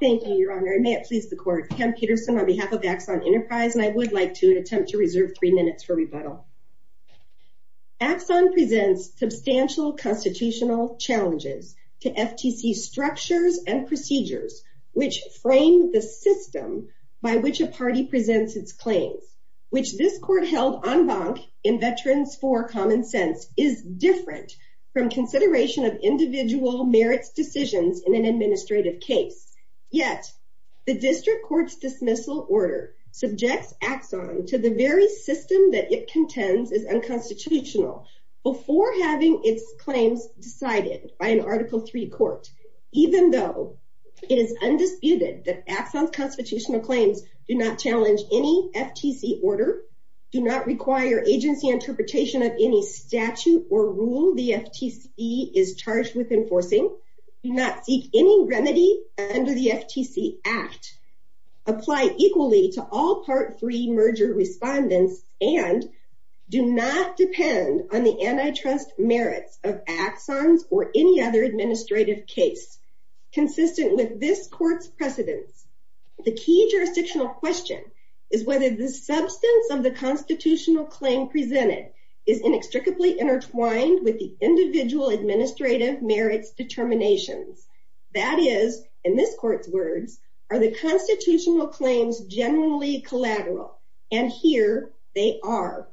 Thank you, Your Honor. And may it please the court, Pam Peterson on behalf of Axon Enterprise, and I would like to attempt to reserve three minutes for rebuttal. Axon presents substantial constitutional challenges to FTC structures and procedures which frame the system by which a party presents its claims, which this court held en banc in Veterans for Common Sense is different from consideration of individual merits decisions in an administrative case. Yet, the district court's dismissal order subjects Axon to the very system that it contends is unconstitutional before having its claims decided by an Article III court, even though it is undisputed that Axon's constitutional claims do not challenge any FTC order, do not require agency interpretation of any statute or rule the FTC is charged with enforcing, do not seek any remedy under the FTC Act, apply equally to all Part III merger respondents, and do not depend on the antitrust merits of Axon's or any other administrative case consistent with this court's precedents. The key jurisdictional question is whether the substance of the constitutional claim presented is inextricably intertwined with the individual administrative merits determinations. That is, in this court's words, are the constitutional claims generally collateral? And here they are.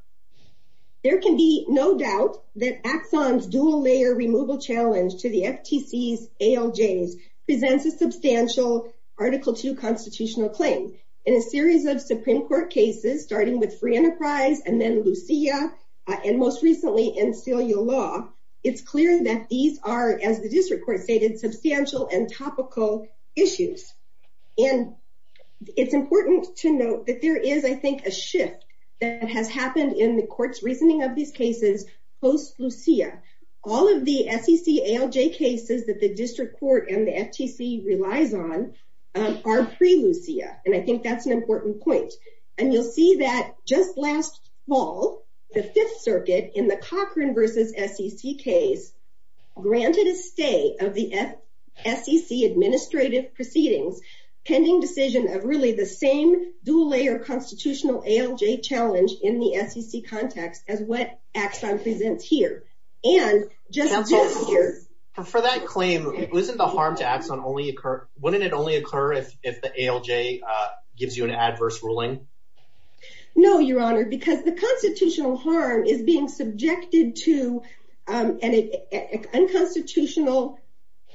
There can be no doubt that Axon's dual-layer removal challenge to the FTC's ALJs presents a substantial Article II constitutional claim. In a series of Supreme Court cases, starting with Free Enterprise and then Lucia, and most recently in Celia Law, it's clear that these are, as the district court stated, substantial and topical issues. And it's important to note that there is, I think, a shift that has happened in the court's reasoning of these cases post-Lucia. All of the SEC ALJ cases that the district court and the FTC relies on are pre-Lucia, and I think that's an important point. And you'll see that just last fall, the Fifth Circuit, in the Cochran v. SEC case, granted a stay of the SEC administrative proceedings, pending decision of really the same dual-layer constitutional ALJ challenge in the SEC context as what Axon presents here. And just this year- For that claim, wouldn't the harm to Axon only occur, if the ALJ gives you an adverse ruling? No, Your Honor, because the constitutional harm is being subjected to an unconstitutional,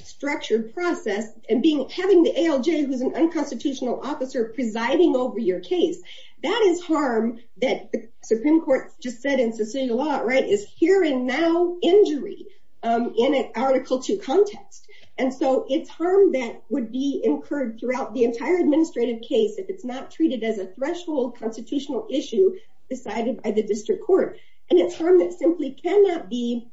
structured process, and having the ALJ, who's an unconstitutional officer, presiding over your case. That is harm that the Supreme Court just said in Cecilia Law, right, is hearing now injury in an Article II context. And so it's harm that would be incurred throughout the entire administrative case if it's not treated as a threshold constitutional issue decided by the district court. And it's harm that simply cannot be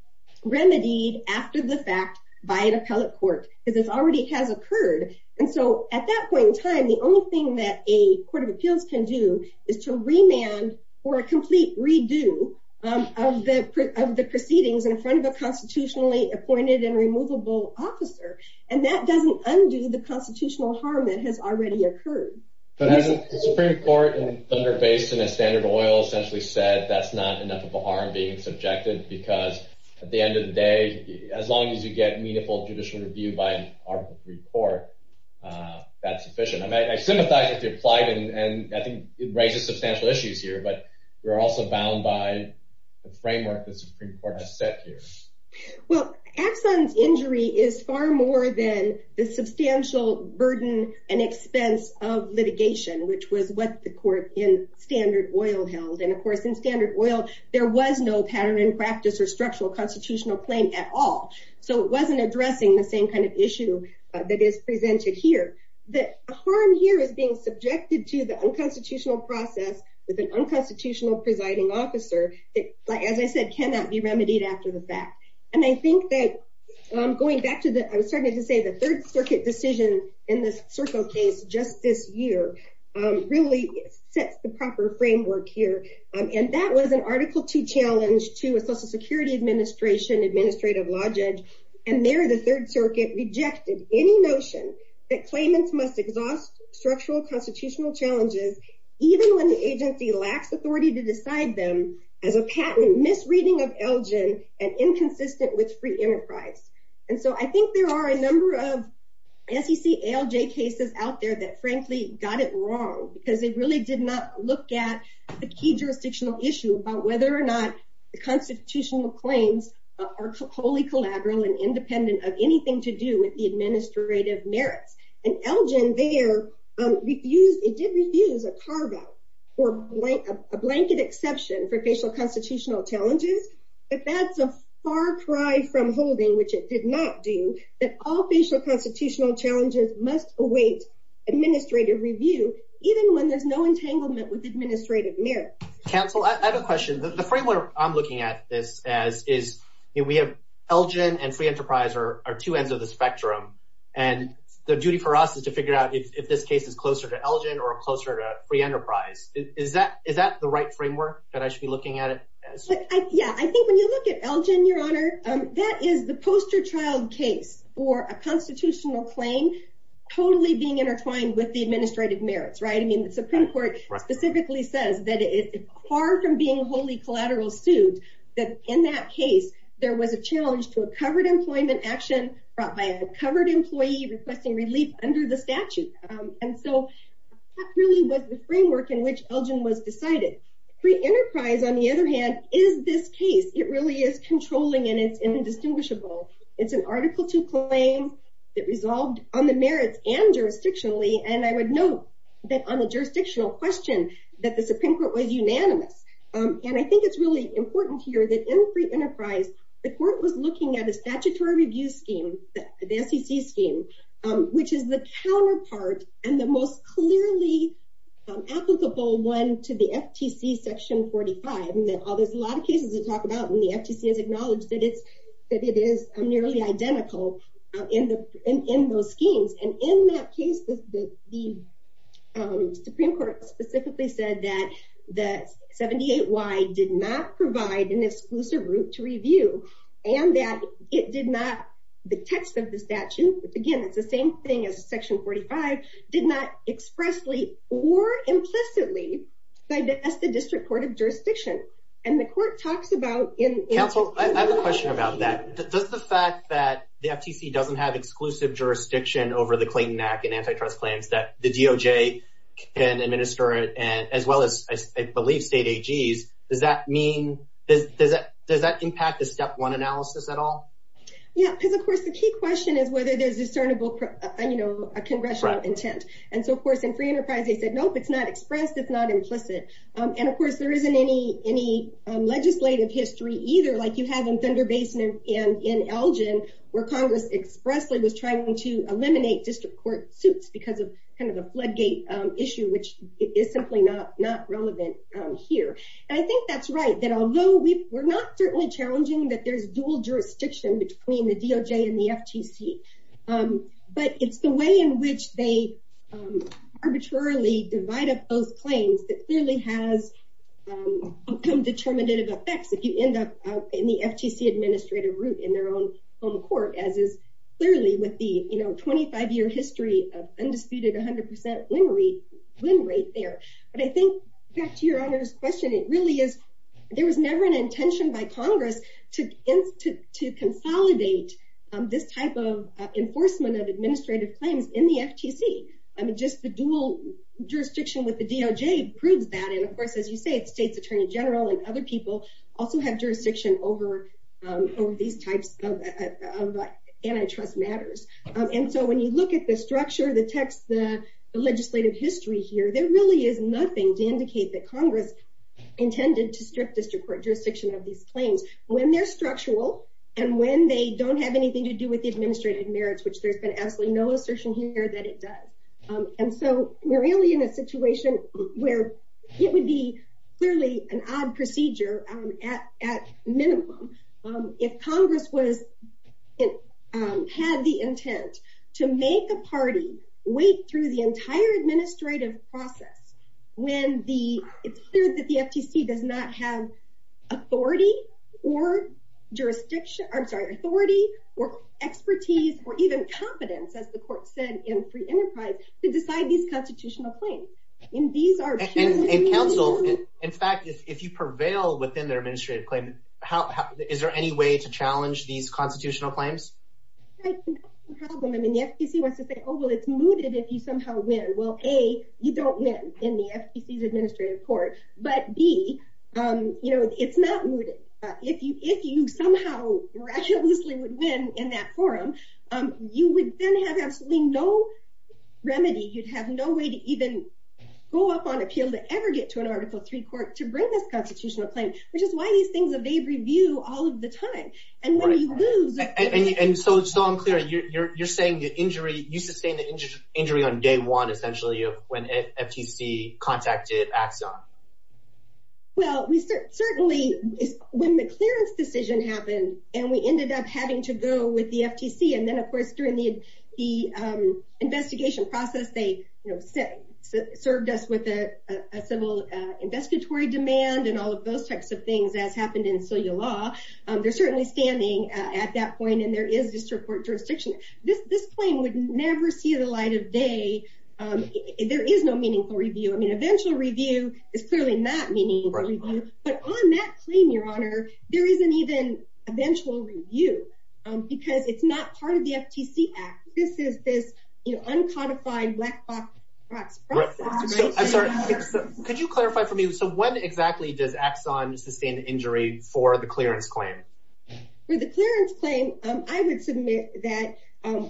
remedied after the fact by an appellate court, because it already has occurred. And so at that point in time, the only thing that a court of appeals can do is to remand for a complete redo of the proceedings in front of a constitutionally appointed and removable officer. And that doesn't undo the constitutional harm that has already occurred. But hasn't the Supreme Court in Thunder Basin and Standard Oil essentially said that's not enough of a harm being subjected, because at the end of the day, as long as you get meaningful judicial review by an Article III court, that's sufficient. I sympathize with your plight, and I think it raises substantial issues here, but you're also bound by the framework that the Supreme Court has set here. Well, Afsan's injury is far more than the substantial burden and expense of litigation, which was what the court in Standard Oil held. And of course, in Standard Oil, there was no pattern and practice or structural constitutional claim at all. So it wasn't addressing the same kind of issue that is presented here. The harm here is being subjected to the unconstitutional process with an unconstitutional presiding officer that, as I said, cannot be remedied after the fact. And I think that going back to the, I was starting to say the Third Circuit decision in this circle case just this year really sets the proper framework here. And that was an Article II challenge to a Social Security Administration administrative law judge, and there the Third Circuit rejected any notion that claimants must exhaust structural constitutional challenges even when the agency lacks authority to decide them as a patent misreading of Elgin and inconsistent with free enterprise. And so I think there are a number of SEC ALJ cases out there that frankly got it wrong because they really did not look at the key jurisdictional issue about whether or not the constitutional claims are wholly collateral and independent of anything to do with the administrative merits. And Elgin there refused, it did refuse a carve-out or a blanket exception for facial constitutional challenges, but that's a far cry from holding, which it did not do, that all facial constitutional challenges must await administrative review even when there's no entanglement with administrative merits. Council, I have a question. The framework I'm looking at this as is, we have Elgin and free enterprise are two ends of the spectrum, and the duty for us is to figure out if this case is closer to Elgin or closer to free enterprise. Is that the right framework that I should be looking at it? Yeah, I think when you look at Elgin, your honor, that is the poster child case for a constitutional claim totally being intertwined with the administrative merits, right? I mean, the Supreme Court specifically says that it's hard from being wholly collateral suit that in that case, there was a challenge to a covered employment action brought by a covered employee requesting relief under the statute. And so that really was the framework in which Elgin was decided. Free enterprise, on the other hand, is this case. It really is controlling and it's indistinguishable. It's an article two claim that resolved on the merits and jurisdictionally. And I would note that on the jurisdictional question that the Supreme Court was unanimous. And I think it's really important here that in free enterprise, the court was looking at a statutory review scheme, the SEC scheme, which is the counterpart and the most clearly applicable one to the FTC section 45. And there's a lot of cases to talk about and the FTC has acknowledged that it is nearly identical in those schemes. And in that case, the Supreme Court specifically said that the 78Y did not provide an exclusive route to review and that it did not, the text of the statute, again, it's the same thing as section 45, did not expressly or implicitly digress the district court of jurisdiction. And the court talks about in- Council, I have a question about that. Does the fact that the FTC doesn't have exclusive jurisdiction over the Clayton Act and antitrust claims that the DOJ can administer and as well as I believe state AGs, does that impact the step one analysis at all? Yeah, because of course, the key question is whether there's discernible congressional intent. And so of course, in free enterprise, they said, nope, it's not expressed, it's not implicit. And of course, there isn't any legislative history either, like you have in Thunder Basin and in Elgin, where Congress expressly was trying to eliminate district court suits because of kind of the floodgate issue, which is simply not relevant here. And I think that's right, that although we're not certainly challenging that there's dual jurisdiction between the DOJ and the FTC, but it's the way in which they arbitrarily divide up those claims that clearly has outcome determinative effects if you end up in the FTC administrative route in their own home court, as is clearly with the 25 year history of undisputed 100% win rate there. But I think back to your honor's question, it really is, there was never an intention by Congress to consolidate this type of enforcement of administrative claims in the FTC. I mean, just the dual jurisdiction with the DOJ proves that and of course, as you say, it's State's Attorney General and other people also have jurisdiction over these types of antitrust matters. And so when you look at the structure, the text, the legislative history here, there really is nothing to indicate that Congress intended to strip district court jurisdiction of these claims when they're structural, and when they don't have anything to do with the administrative merits, which there's been absolutely no assertion here that it does. And so we're really in a situation where it would be clearly an odd procedure at minimum. If Congress had the intent to make a party wait through the entire administrative process, when the, it's clear that the FTC does not have authority or jurisdiction, I'm sorry, authority or expertise or even competence, as the court said in free enterprise to decide these constitutional claims. And these are- And counsel, in fact, if you prevail within their administrative claim, is there any way to challenge these constitutional claims? Right, I mean, the FTC wants to say, oh, well, it's mooted if you somehow win. Well, A, you don't win in the FTC's administrative court, but B, it's not mooted. If you somehow recklessly would win in that forum, you would then have absolutely no remedy. You'd have no way to even go up on appeal to ever get to an Article III court to bring this constitutional claim, which is why these things are made review all of the time. And when you lose- And so I'm clear, you're saying the injury, you sustained the injury on day one, essentially, when FTC contacted Axon. Well, we certainly, when the clearance decision happened and we ended up having to go with the FTC, and then, of course, during the investigation process, they served us with a civil investigatory demand and all of those types of things, as happened in Celia Law. They're certainly standing at that point, and there is district court jurisdiction. This claim would never see the light of day. There is no meaningful review. I mean, eventual review is clearly not meaningful review, but on that claim, Your Honor, there isn't even eventual review because it's not part of the FTC Act. This is this uncodified black box process. I'm sorry, could you clarify for me, so when exactly does Axon sustain the injury for the clearance claim? For the clearance claim, I would submit that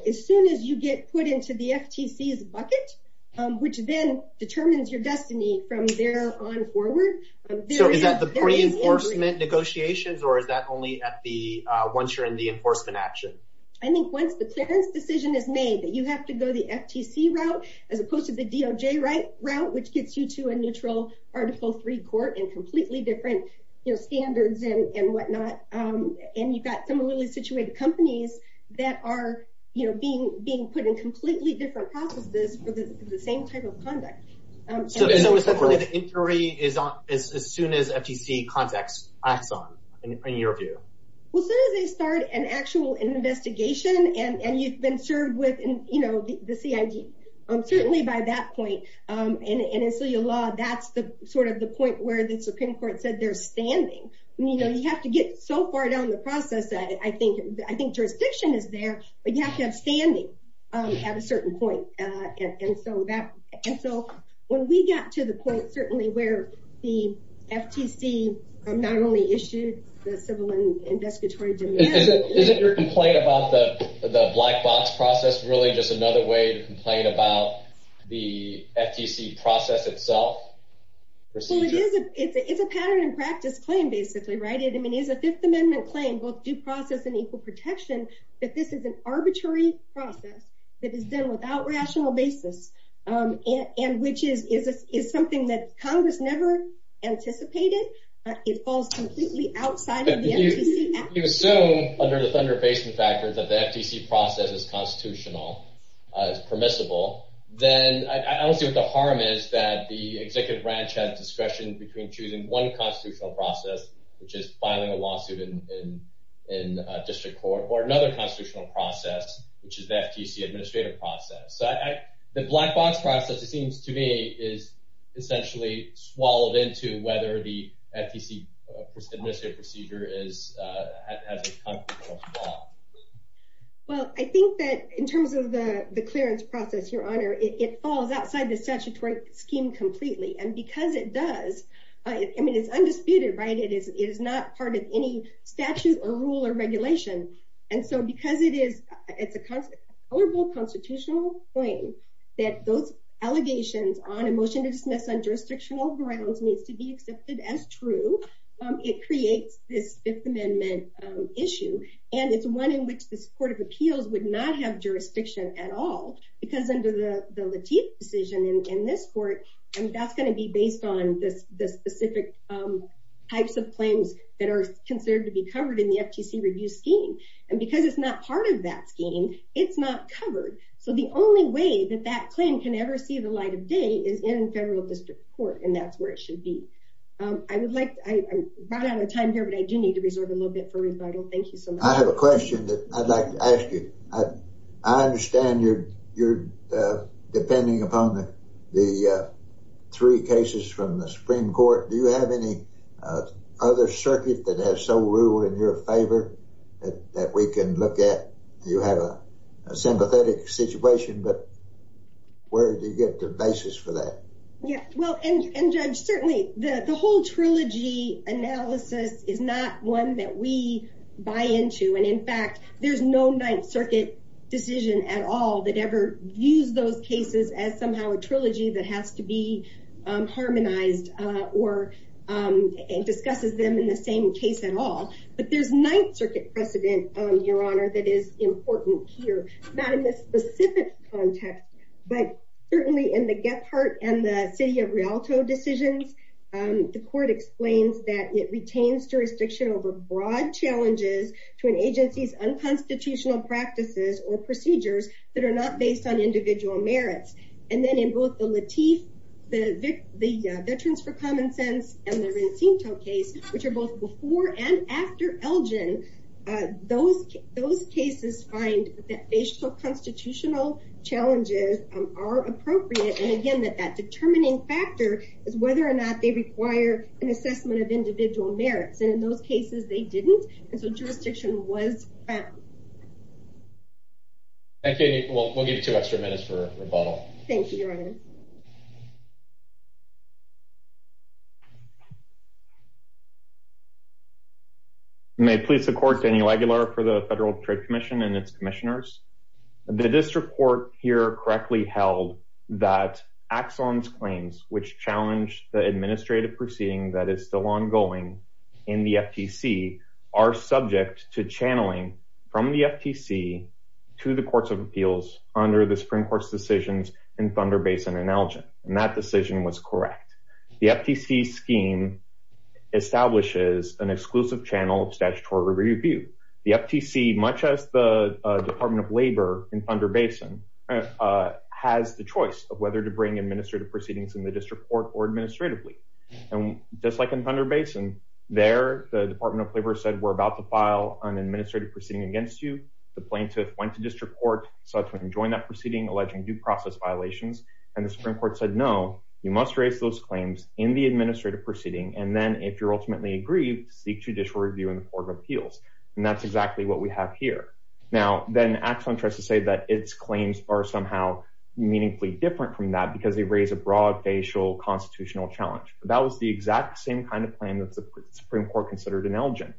as soon as you get put into the FTC's bucket, which then determines your destiny from there on forward. So is that the pre-enforcement negotiations or is that only at the, once you're in the enforcement action? I think once the clearance decision is made, that you have to go the FTC route as opposed to the DOJ route, which gets you to a neutral Article III court and completely different standards and whatnot, and you've got some really situated companies that are being put in completely different processes for the same type of conduct. So is that only the injury is on as soon as FTC contacts Axon, in your view? Well, as soon as they start an actual investigation and you've been served with the CID, certainly by that point, and in civil law, that's sort of the point where the Supreme Court said they're standing. You have to get so far down the process that I think jurisdiction is there, but you have to have standing at a certain point. And so when we got to the point certainly where the FTC not only issued the civil and investigatory demands. Isn't your complaint about the black box process really just another way to complain about the FTC process itself? Well, it is a pattern and practice claim, basically, right? It is a Fifth Amendment claim, both due process and equal protection, that this is an arbitrary process that is done without rational basis, and which is something that Congress never anticipated. It falls completely outside of the FTC. You assume under the Thunder Basin factors that the FTC process is constitutional, is permissible, then I don't see what the harm is that the executive branch has discretion between choosing one constitutional process, which is filing a lawsuit in district court, or another constitutional process, which is the FTC administrative process. The black box process, it seems to me, is essentially swallowed into whether the FTC administrative procedure has a constitutional flaw. Well, I think that in terms of the clearance process, Your Honor, it falls outside the statutory scheme completely. And because it does, I mean, it's undisputed, right? It is not part of any statute, or rule, or regulation. And so because it's a tolerable constitutional claim, that those allegations on a motion to dismiss on jurisdictional grounds needs to be accepted as true, it creates this Fifth Amendment issue. And it's one in which this Court of Appeals would not have jurisdiction at all, because under the Lateef decision in this court, I mean, that's gonna be based on the specific types of claims that are considered to be covered in the FTC review scheme. And because it's not part of that scheme, it's not covered. So the only way that that claim can ever see the light of day is in federal district court, and that's where it should be. I would like, I'm right out of time here, but I do need to reserve a little bit for rebuttal. Thank you so much. I have a question that I'd like to ask you. I understand you're depending upon the three cases from the Supreme Court. Do you have any other circuit that has so ruled in your favor that we can look at? You have a sympathetic situation, but where do you get the basis for that? Yeah, well, and Judge, certainly the whole trilogy analysis is not one that we buy into. And in fact, there's no Ninth Circuit decision at all that ever views those cases as somehow a trilogy that has to be harmonized or discusses them in the same case at all. But there's Ninth Circuit precedent, Your Honor, that is important here, not in this specific context, but certainly in the Gephardt and the city of Rialto decisions, the court explains that it retains jurisdiction over broad challenges to an agency's unconstitutional practices or procedures that are not based on individual merits. And then in both the Latif, the Veterans for Common Sense and the Racinto case, which are both before and after Elgin, those cases find that facial constitutional challenges are appropriate. And again, that determining factor is whether or not they require an assessment of individual merits. And in those cases, they didn't. And so jurisdiction was. Thank you. We'll give you two extra minutes for rebuttal. Thank you, Your Honor. May it please the court, Danny Laguilar for the Federal Trade Commission and its commissioners. The district court here correctly held that Axon's claims, which challenged the administrative proceeding that is still ongoing in the FTC, are subject to channeling from the FTC to the courts of appeals under the Supreme Court's decisions in Thunder Basin and Elgin. And that decision was correct. The FTC scheme establishes an exclusive channel of statutory review. The FTC, much as the Department of Labor in Thunder Basin has the choice of whether to bring administrative proceedings in the district court or administratively. And just like in Thunder Basin, there, the Department of Labor said, we're about to file an administrative proceeding against you. The plaintiff went to district court, subsequently joined that proceeding, alleging due process violations. And the Supreme Court said, no, you must raise those claims in the administrative proceeding. And then if you're ultimately aggrieved, seek judicial review in the court of appeals. And that's exactly what we have here. Now, then Axon tries to say that its claims are somehow meaningfully different from that because they raise a broad facial constitutional challenge. That was the exact same kind of claim that the Supreme Court considered in Elgin.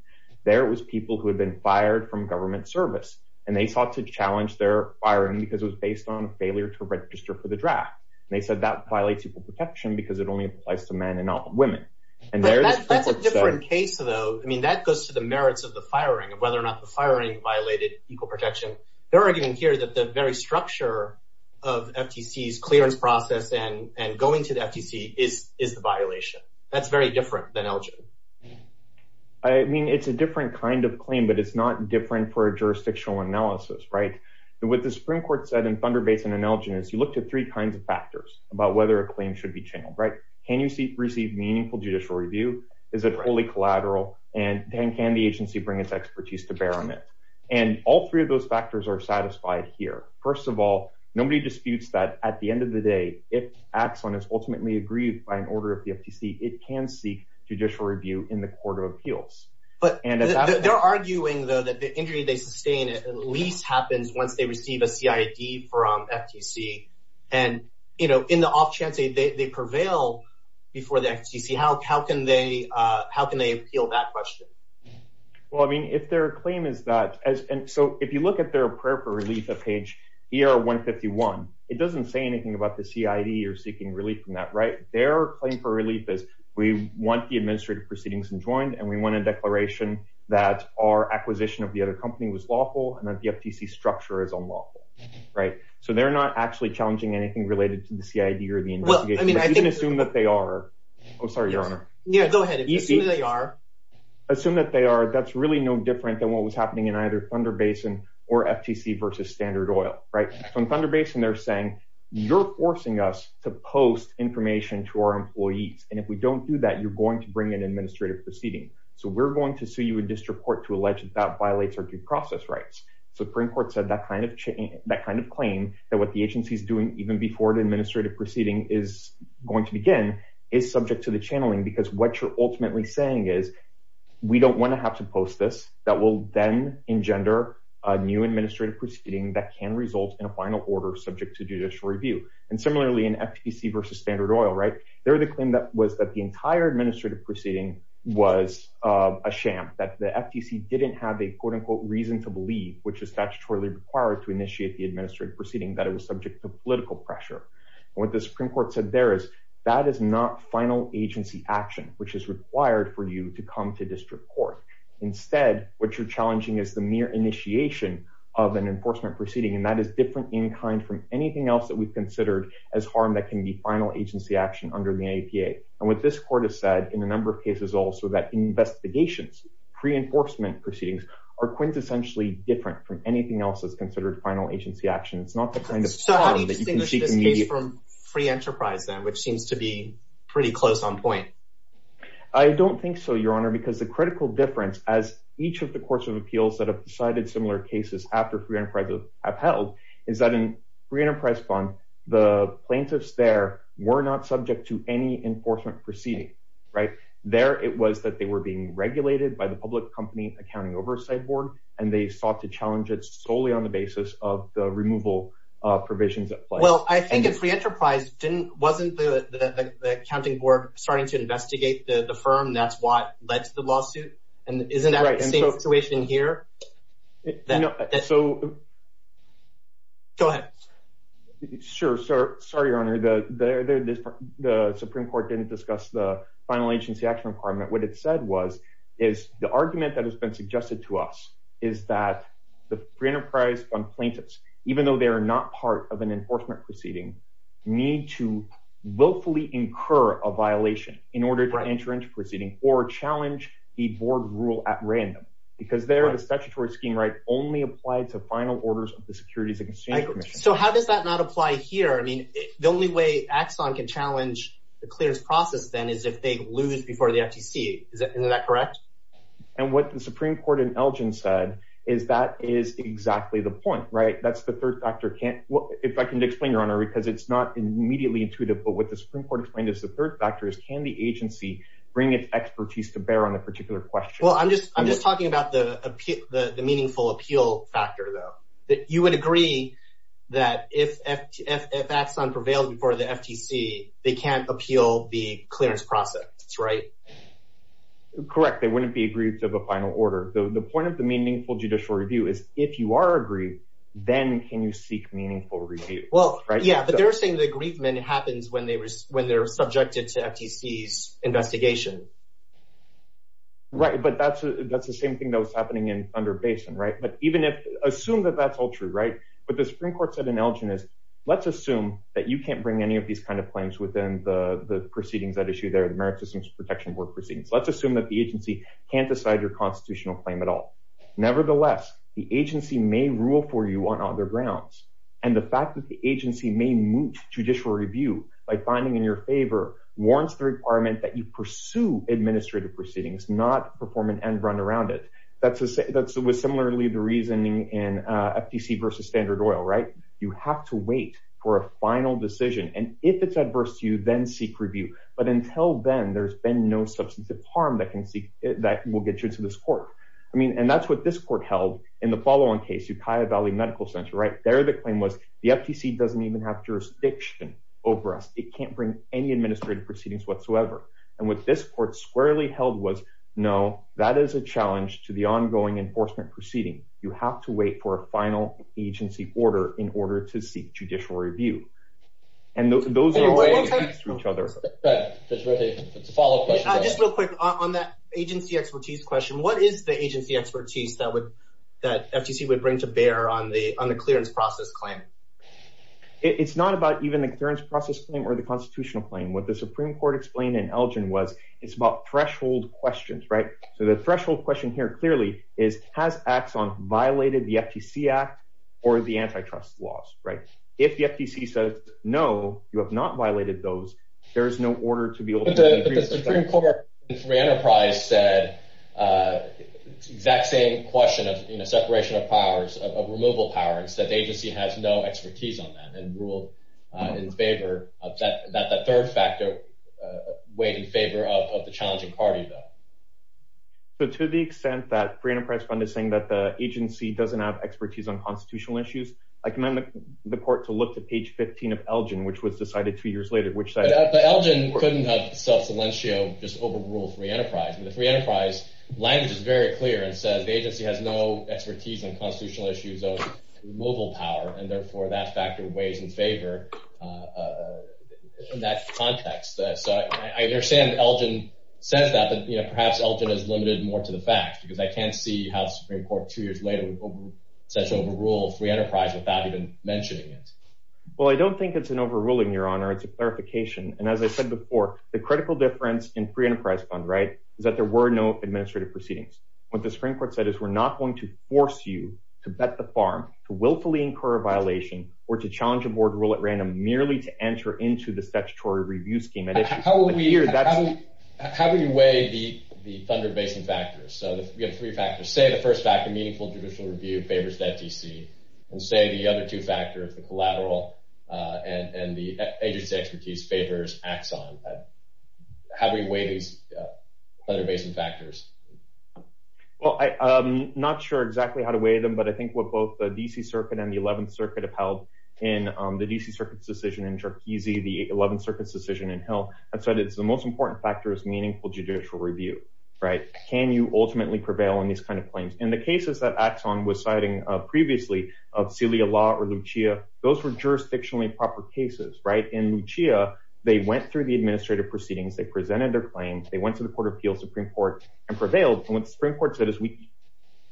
There was people who had been fired from government service and they sought to challenge their firing because it was based on failure to register for the draft. And they said that violates equal protection because it only applies to men and not women. And there- That's a different case though. I mean, that goes to the merits of the firing of whether or not the firing violated equal protection. They're arguing here that the very structure of FTC's clearance process and going to the FTC is the violation. That's very different than Elgin. I mean, it's a different kind of claim, but it's not different for a jurisdictional analysis, right? And what the Supreme Court said in Thunder Basin and Elgin is you looked at three kinds of factors about whether a claim should be channeled, right? Can you receive meaningful judicial review? Is it wholly collateral? And can the agency bring its expertise to bear on it? And all three of those factors are satisfied here. First of all, nobody disputes that at the end of the day, if Axon is ultimately agreed by an order of the FTC, it can seek judicial review in the court of appeals. But- They're arguing though that the injury they sustain at least happens once they receive a CID from FTC. And, you know, in the off chance they prevail before the FTC, how can they appeal that question? Well, I mean, if their claim is that, so if you look at their prayer for relief at page ER-151, it doesn't say anything about the CID or seeking relief from that, right? Their claim for relief is we want the administrative proceedings enjoined and we want a declaration that our acquisition of the other company was lawful and that the FTC structure is unlawful, right? So they're not actually challenging anything related to the CID or the investigation. You can assume that they are. Oh, sorry, Your Honor. Yeah, go ahead, assume that they are. Assume that they are, that's really no different than what was happening in either Thunder Basin or FTC versus Standard Oil, right? So in Thunder Basin, they're saying, you're forcing us to post information to our employees. And if we don't do that, you're going to bring an administrative proceeding. So we're going to sue you in district court to allege that that violates our due process rights. Supreme Court said that kind of claim that what the agency's doing even before the administrative proceeding is going to begin is subject to the channeling because what you're ultimately saying is we don't wanna have to post this, that will then engender a new administrative proceeding that can result in a final order subject to judicial review. And similarly, in FTC versus Standard Oil, right? They're the claim that was that the entire administrative proceeding was a sham, that the FTC didn't have a quote unquote reason to believe, which is statutorily required to initiate the administrative proceeding, that it was subject to political pressure. What the Supreme Court said there is that is not final agency action, which is required for you to come to district court. Instead, what you're challenging is the mere initiation of an enforcement proceeding, and that is different in kind from anything else that we've considered as harm that can be final agency action under the APA. And what this court has said in a number of cases also that investigations, pre-enforcement proceedings are quintessentially different from anything else that's considered final agency action. It's not the kind of- So how do you distinguish this case from free enterprise then which seems to be pretty close on point? I don't think so, your honor, because the critical difference as each of the courts of appeals that have decided similar cases after free enterprise have held is that in free enterprise bond, the plaintiffs there were not subject to any enforcement proceeding, right? There, it was that they were being regulated by the public company accounting oversight board, and they sought to challenge it solely on the basis of the removal provisions at play. Well, I think in free enterprise, wasn't the accounting board starting to investigate the firm? That's what led to the lawsuit. And isn't that the same situation here? Go ahead. Sure, sorry, your honor. The Supreme Court didn't discuss the final agency action requirement. What it said was, is the argument that has been suggested to us is that the free enterprise bond plaintiffs, even though they are not part of an enforcement proceeding, need to willfully incur a violation in order to enter into proceeding or challenge the board rule at random, because there, the statutory scheme right only applied to final orders of the Securities and Exchange Commission. So how does that not apply here? I mean, the only way Axon can challenge the clearance process then is if they lose before the FTC. Isn't that correct? And what the Supreme Court in Elgin said is that is exactly the point, right? That's the third factor. If I can explain, your honor, because it's not immediately intuitive, but what the Supreme Court explained is the third factor is, can the agency bring its expertise to bear on a particular question? Well, I'm just talking about the meaningful appeal factor, though. You would agree that if Axon prevailed before the FTC, they can't appeal the clearance process, right? Correct, they wouldn't be aggrieved of a final order. The point of the meaningful judicial review is if you are aggrieved, then can you seek meaningful review? Well, yeah, but they're saying the aggrievement happens when they're subjected to FTC's investigation. Right, but that's the same thing that was happening in Thunder Basin, right? But even if, assume that that's all true, right? What the Supreme Court said in Elgin is, let's assume that you can't bring any of these kind of claims within the proceedings that issue there, the Merit Systems Protection Board proceedings. Let's assume that the agency can't decide your constitutional claim at all. Nevertheless, the agency may rule for you on other grounds. And the fact that the agency may moot judicial review by finding in your favor warrants the requirement that you pursue administrative proceedings, not perform an end run around it. That's with similarly the reasoning in FTC versus Standard Oil, right? You have to wait for a final decision. And if it's adverse to you, then seek review. But until then, there's been no substantive harm that will get you to this court. I mean, and that's what this court held in the follow-on case, Ukiah Valley Medical Center, right? There, the claim was, the FTC doesn't even have jurisdiction over us. It can't bring any administrative proceedings whatsoever. And what this court squarely held was, no, that is a challenge to the ongoing enforcement proceeding. You have to wait for a final agency order in order to seek judicial review. And those are- Wait, one second. To each other. Go ahead, Judge Murthy. It's a follow-up question. Just real quick, on that agency expertise question, what is the agency expertise that FTC would bring to bear on the clearance process claim? It's not about even the clearance process claim or the constitutional claim. What the Supreme Court explained in Elgin was, it's about threshold questions, right? So the threshold question here clearly is, has Axon violated the FTC Act or the antitrust laws, right? If the FTC says, no, you have not violated those, there is no order to be able to- But the Supreme Court in Free Enterprise said exact same question of separation of powers, of removal powers, that the agency has no expertise on that and ruled in favor of that, that the third factor weighed in favor of the challenging party, though. So to the extent that Free Enterprise Fund is saying that the agency doesn't have expertise on constitutional issues, I commend the court to look to page 15 of Elgin, which was decided two years later, which said- But Elgin couldn't have self-cilentio just overruled Free Enterprise. And the Free Enterprise language is very clear and says the agency has no expertise on constitutional issues of removal power, and therefore, that factor weighs in favor in that context. So I understand Elgin says that, but perhaps Elgin is limited more to the facts, because I can't see how the Supreme Court, two years later, would essentially overrule Free Enterprise without even mentioning it. Well, I don't think it's an overruling, Your Honor. It's a clarification. And as I said before, the critical difference in Free Enterprise Fund, right, is that there were no administrative proceedings. What the Supreme Court said is, we're not going to force you to bet the farm, to willfully incur a violation, or to challenge a board rule at random, merely to enter into the statutory review scheme. And if you- But here, that's- How would you weigh the Thunder Basin factors? So we have three factors. Say the first factor, meaningful judicial review, favors FTC. And say the other two factors, the collateral and the agency expertise, favors Axon. How do we weigh these Thunder Basin factors? Well, I'm not sure exactly how to weigh them, but I think what both the DC Circuit and the 11th Circuit have held in the DC Circuit's decision in Tarkizi, the 11th Circuit's decision in Hill, I've said it's the most important factor is meaningful judicial review, right? Can you ultimately prevail on these kinds of claims? In the cases that Axon was citing previously, of Celia Law or Lucia, those were jurisdictionally proper cases, right? In Lucia, they went through the administrative proceedings, they presented their claims, they went to the Court of Appeals, Supreme Court, and prevailed. And what the Supreme Court said is, we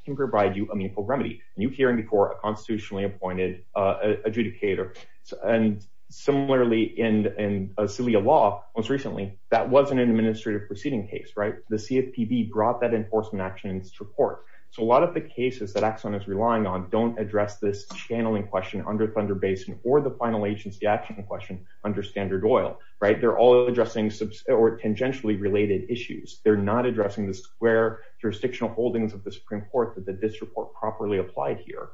can provide you a meaningful remedy. And you hearing before, a constitutionally appointed adjudicator. And similarly in Celia Law, most recently, that wasn't an administrative proceeding case, right? The CFPB brought that enforcement actions to court. So a lot of the cases that Axon is relying on don't address this channeling question under Thunder Basin or the final agency action question under Standard Oil, right? They're all addressing or tangentially related issues. They're not addressing the square jurisdictional holdings of the Supreme Court that this report properly applied here.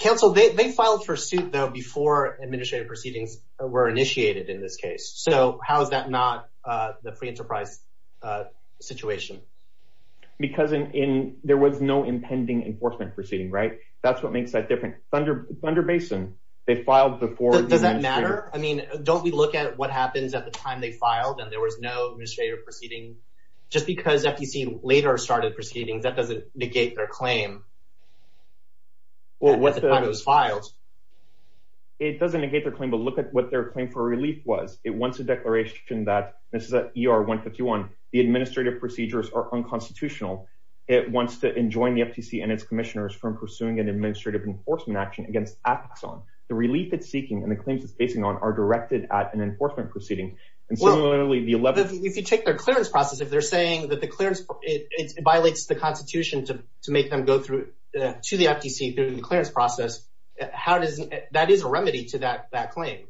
Council, they filed for suit though, before administrative proceedings were initiated in this case. So how is that not the free enterprise situation? Because there was no impending enforcement proceeding, right? That's what makes that different. Under Thunder Basin, they filed before- Does that matter? I mean, don't we look at what happens at the time they filed and there was no administrative proceeding? Just because FTC later started proceedings, that doesn't negate their claim. Well, what the- At the time it was filed. It doesn't negate their claim, but look at what their claim for relief was. It wants a declaration that, this is a ER 151, the administrative procedures are unconstitutional. It wants to enjoin the FTC and its commissioners from pursuing an administrative enforcement action against Axon. The relief it's seeking and the claims it's basing on are directed at an enforcement proceeding. And similarly the 11- If you take their clearance process, if they're saying that the clearance, it violates the constitution to make them go through, to the FTC through the clearance process, how does, that is a remedy to that claim.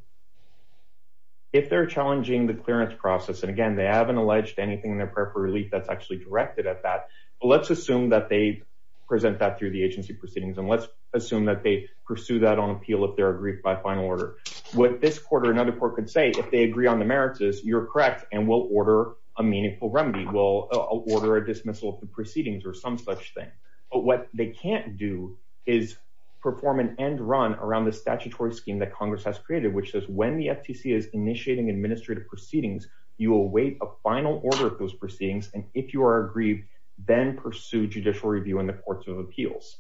If they're challenging the clearance process, and again, they haven't alleged anything in their prayer for relief that's actually directed at that. Let's assume that they present that through the agency proceedings. And let's assume that they pursue that on appeal if they're agreed by final order. What this court or another court could say, if they agree on the merits is you're correct and we'll order a meaningful remedy. We'll order a dismissal of the proceedings or some such thing. But what they can't do is perform an end run around the statutory scheme that Congress has created, which says when the FTC is initiating administrative proceedings, you await a final order of those proceedings. And if you are aggrieved, then pursue judicial review in the courts of appeals.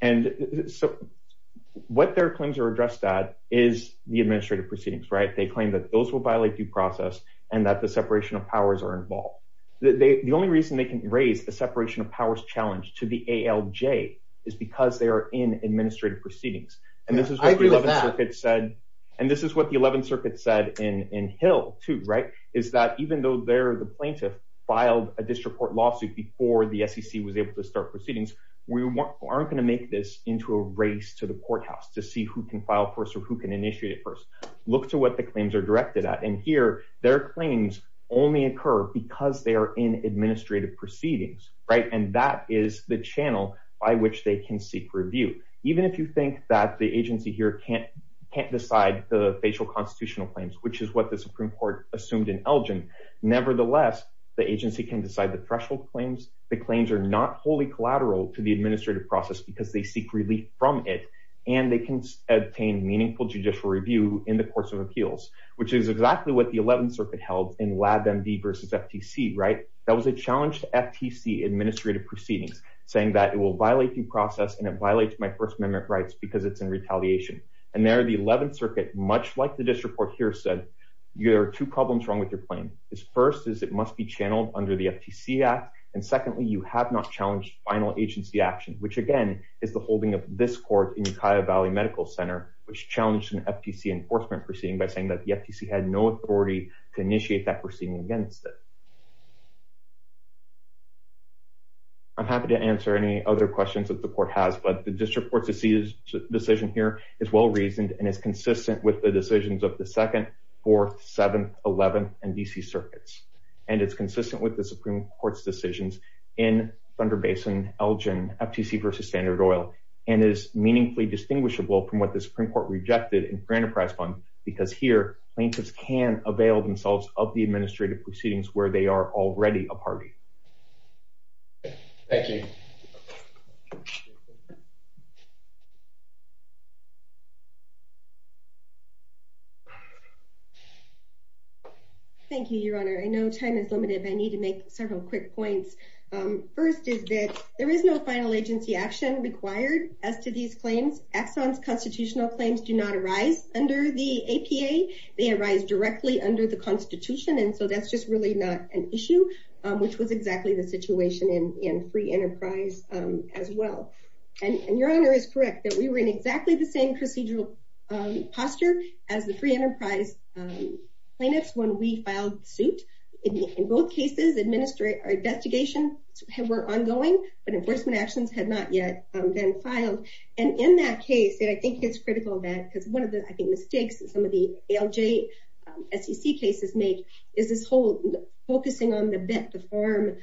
And so what their claims are addressed at is the administrative proceedings, right? They claim that those will violate due process and that the separation of powers are involved. The only reason they can raise the separation of powers challenge to the ALJ is because they are in administrative proceedings. And this is what the 11th circuit said. And this is what the 11th circuit said in Hill too, right? Is that even though they're the plaintiff filed a district court lawsuit before the SEC was able to start proceedings, we aren't gonna make this into a race to the courthouse to see who can file first or who can initiate it first. Look to what the claims are directed at. And here their claims only occur because they are in administrative proceedings, right? And that is the channel by which they can seek review. Even if you think that the agency here can't decide the facial constitutional claims, which is what the Supreme Court assumed in Elgin. Nevertheless, the agency can decide the threshold claims. The claims are not wholly collateral to the administrative process because they seek relief from it and they can obtain meaningful judicial review in the course of appeals, which is exactly what the 11th circuit held in LabMD versus FTC, right? That was a challenge to FTC administrative proceedings saying that it will violate due process and it violates my first amendment rights because it's in retaliation. And there the 11th circuit, much like the district court here said, you have two problems wrong with your claim. Is first is it must be channeled under the FTC Act. And secondly, you have not challenged final agency action, which again is the holding of this court in Ukiah Valley Medical Center, which challenged an FTC enforcement proceeding by saying that the FTC had no authority to initiate that proceeding against it. I'm happy to answer any other questions that the court has, but the district court's decision here is well-reasoned and is consistent with the decisions of the 2nd, 4th, 7th, 11th, and DC circuits. And it's consistent with the Supreme Court's decisions in Thunder Basin, Elgin, FTC versus Standard Oil, and is meaningfully distinguishable from what the Supreme Court rejected in Fair Enterprise Fund, because here plaintiffs can avail themselves of the administrative proceedings where they are already a party. Thank you. Thank you, Your Honor. I know time is limited, but I need to make several quick points. First is that there is no final agency action required as to these claims. Exxon's constitutional claims do not arise under the APA. They arise directly under the constitution, and so that's just really not an issue, which was exactly the situation in Free Enterprise as well. And Your Honor is correct that we were in exactly the same procedural posture as the Free Enterprise plaintiffs when we filed suit. In both cases, investigations were ongoing, but enforcement actions had not yet been filed. And in that case, and I think it's critical that, because one of the, I think, mistakes that some of the ALJ SEC cases make is this whole focusing on the bit, the form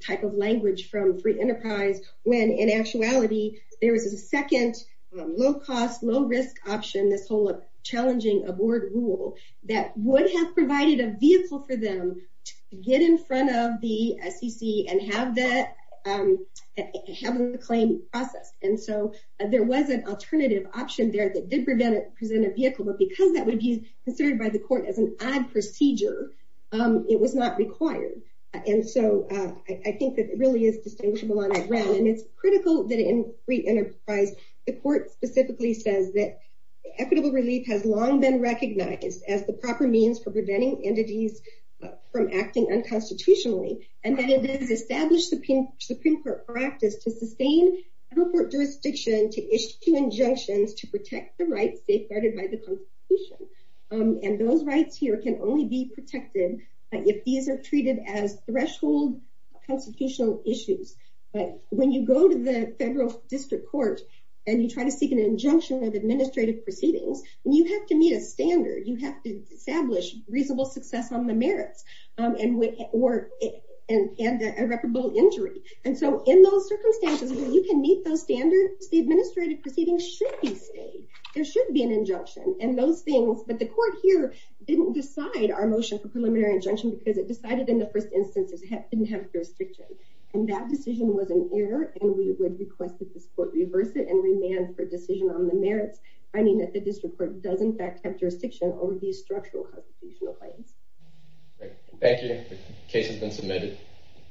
type of language from Free Enterprise, when in actuality, there was a second low cost, low risk option, this whole challenging aboard rule that would have provided a vehicle for them to get in front of the SEC and have the claim processed. And so there was an alternative option there that did present a vehicle, but because that would be considered by the court as an odd procedure, it was not required. And so I think that it really is distinguishable on that run and it's critical that in Free Enterprise, the court specifically says that equitable relief has long been recognized as the proper means for preventing entities from acting unconstitutionally. And that it is established supreme court practice to sustain federal court jurisdiction, to issue injunctions, to protect the rights safeguarded by the constitution. And those rights here can only be protected if these are treated as threshold constitutional issues. But when you go to the federal district court and you try to seek an injunction of administrative proceedings, you have to meet a standard, you have to establish reasonable success on the merits. And irreparable injury. And so in those circumstances, you can meet those standards, the administrative proceedings should be stayed, there should be an injunction and those things, but the court here didn't decide our motion for preliminary injunction because it decided in the first instance it didn't have jurisdiction. And that decision was an error and we would request that this court reverse it and remand for decision on the merits, finding that the district court does in fact have jurisdiction over these structural constitutional claims. Thank you, the case has been submitted.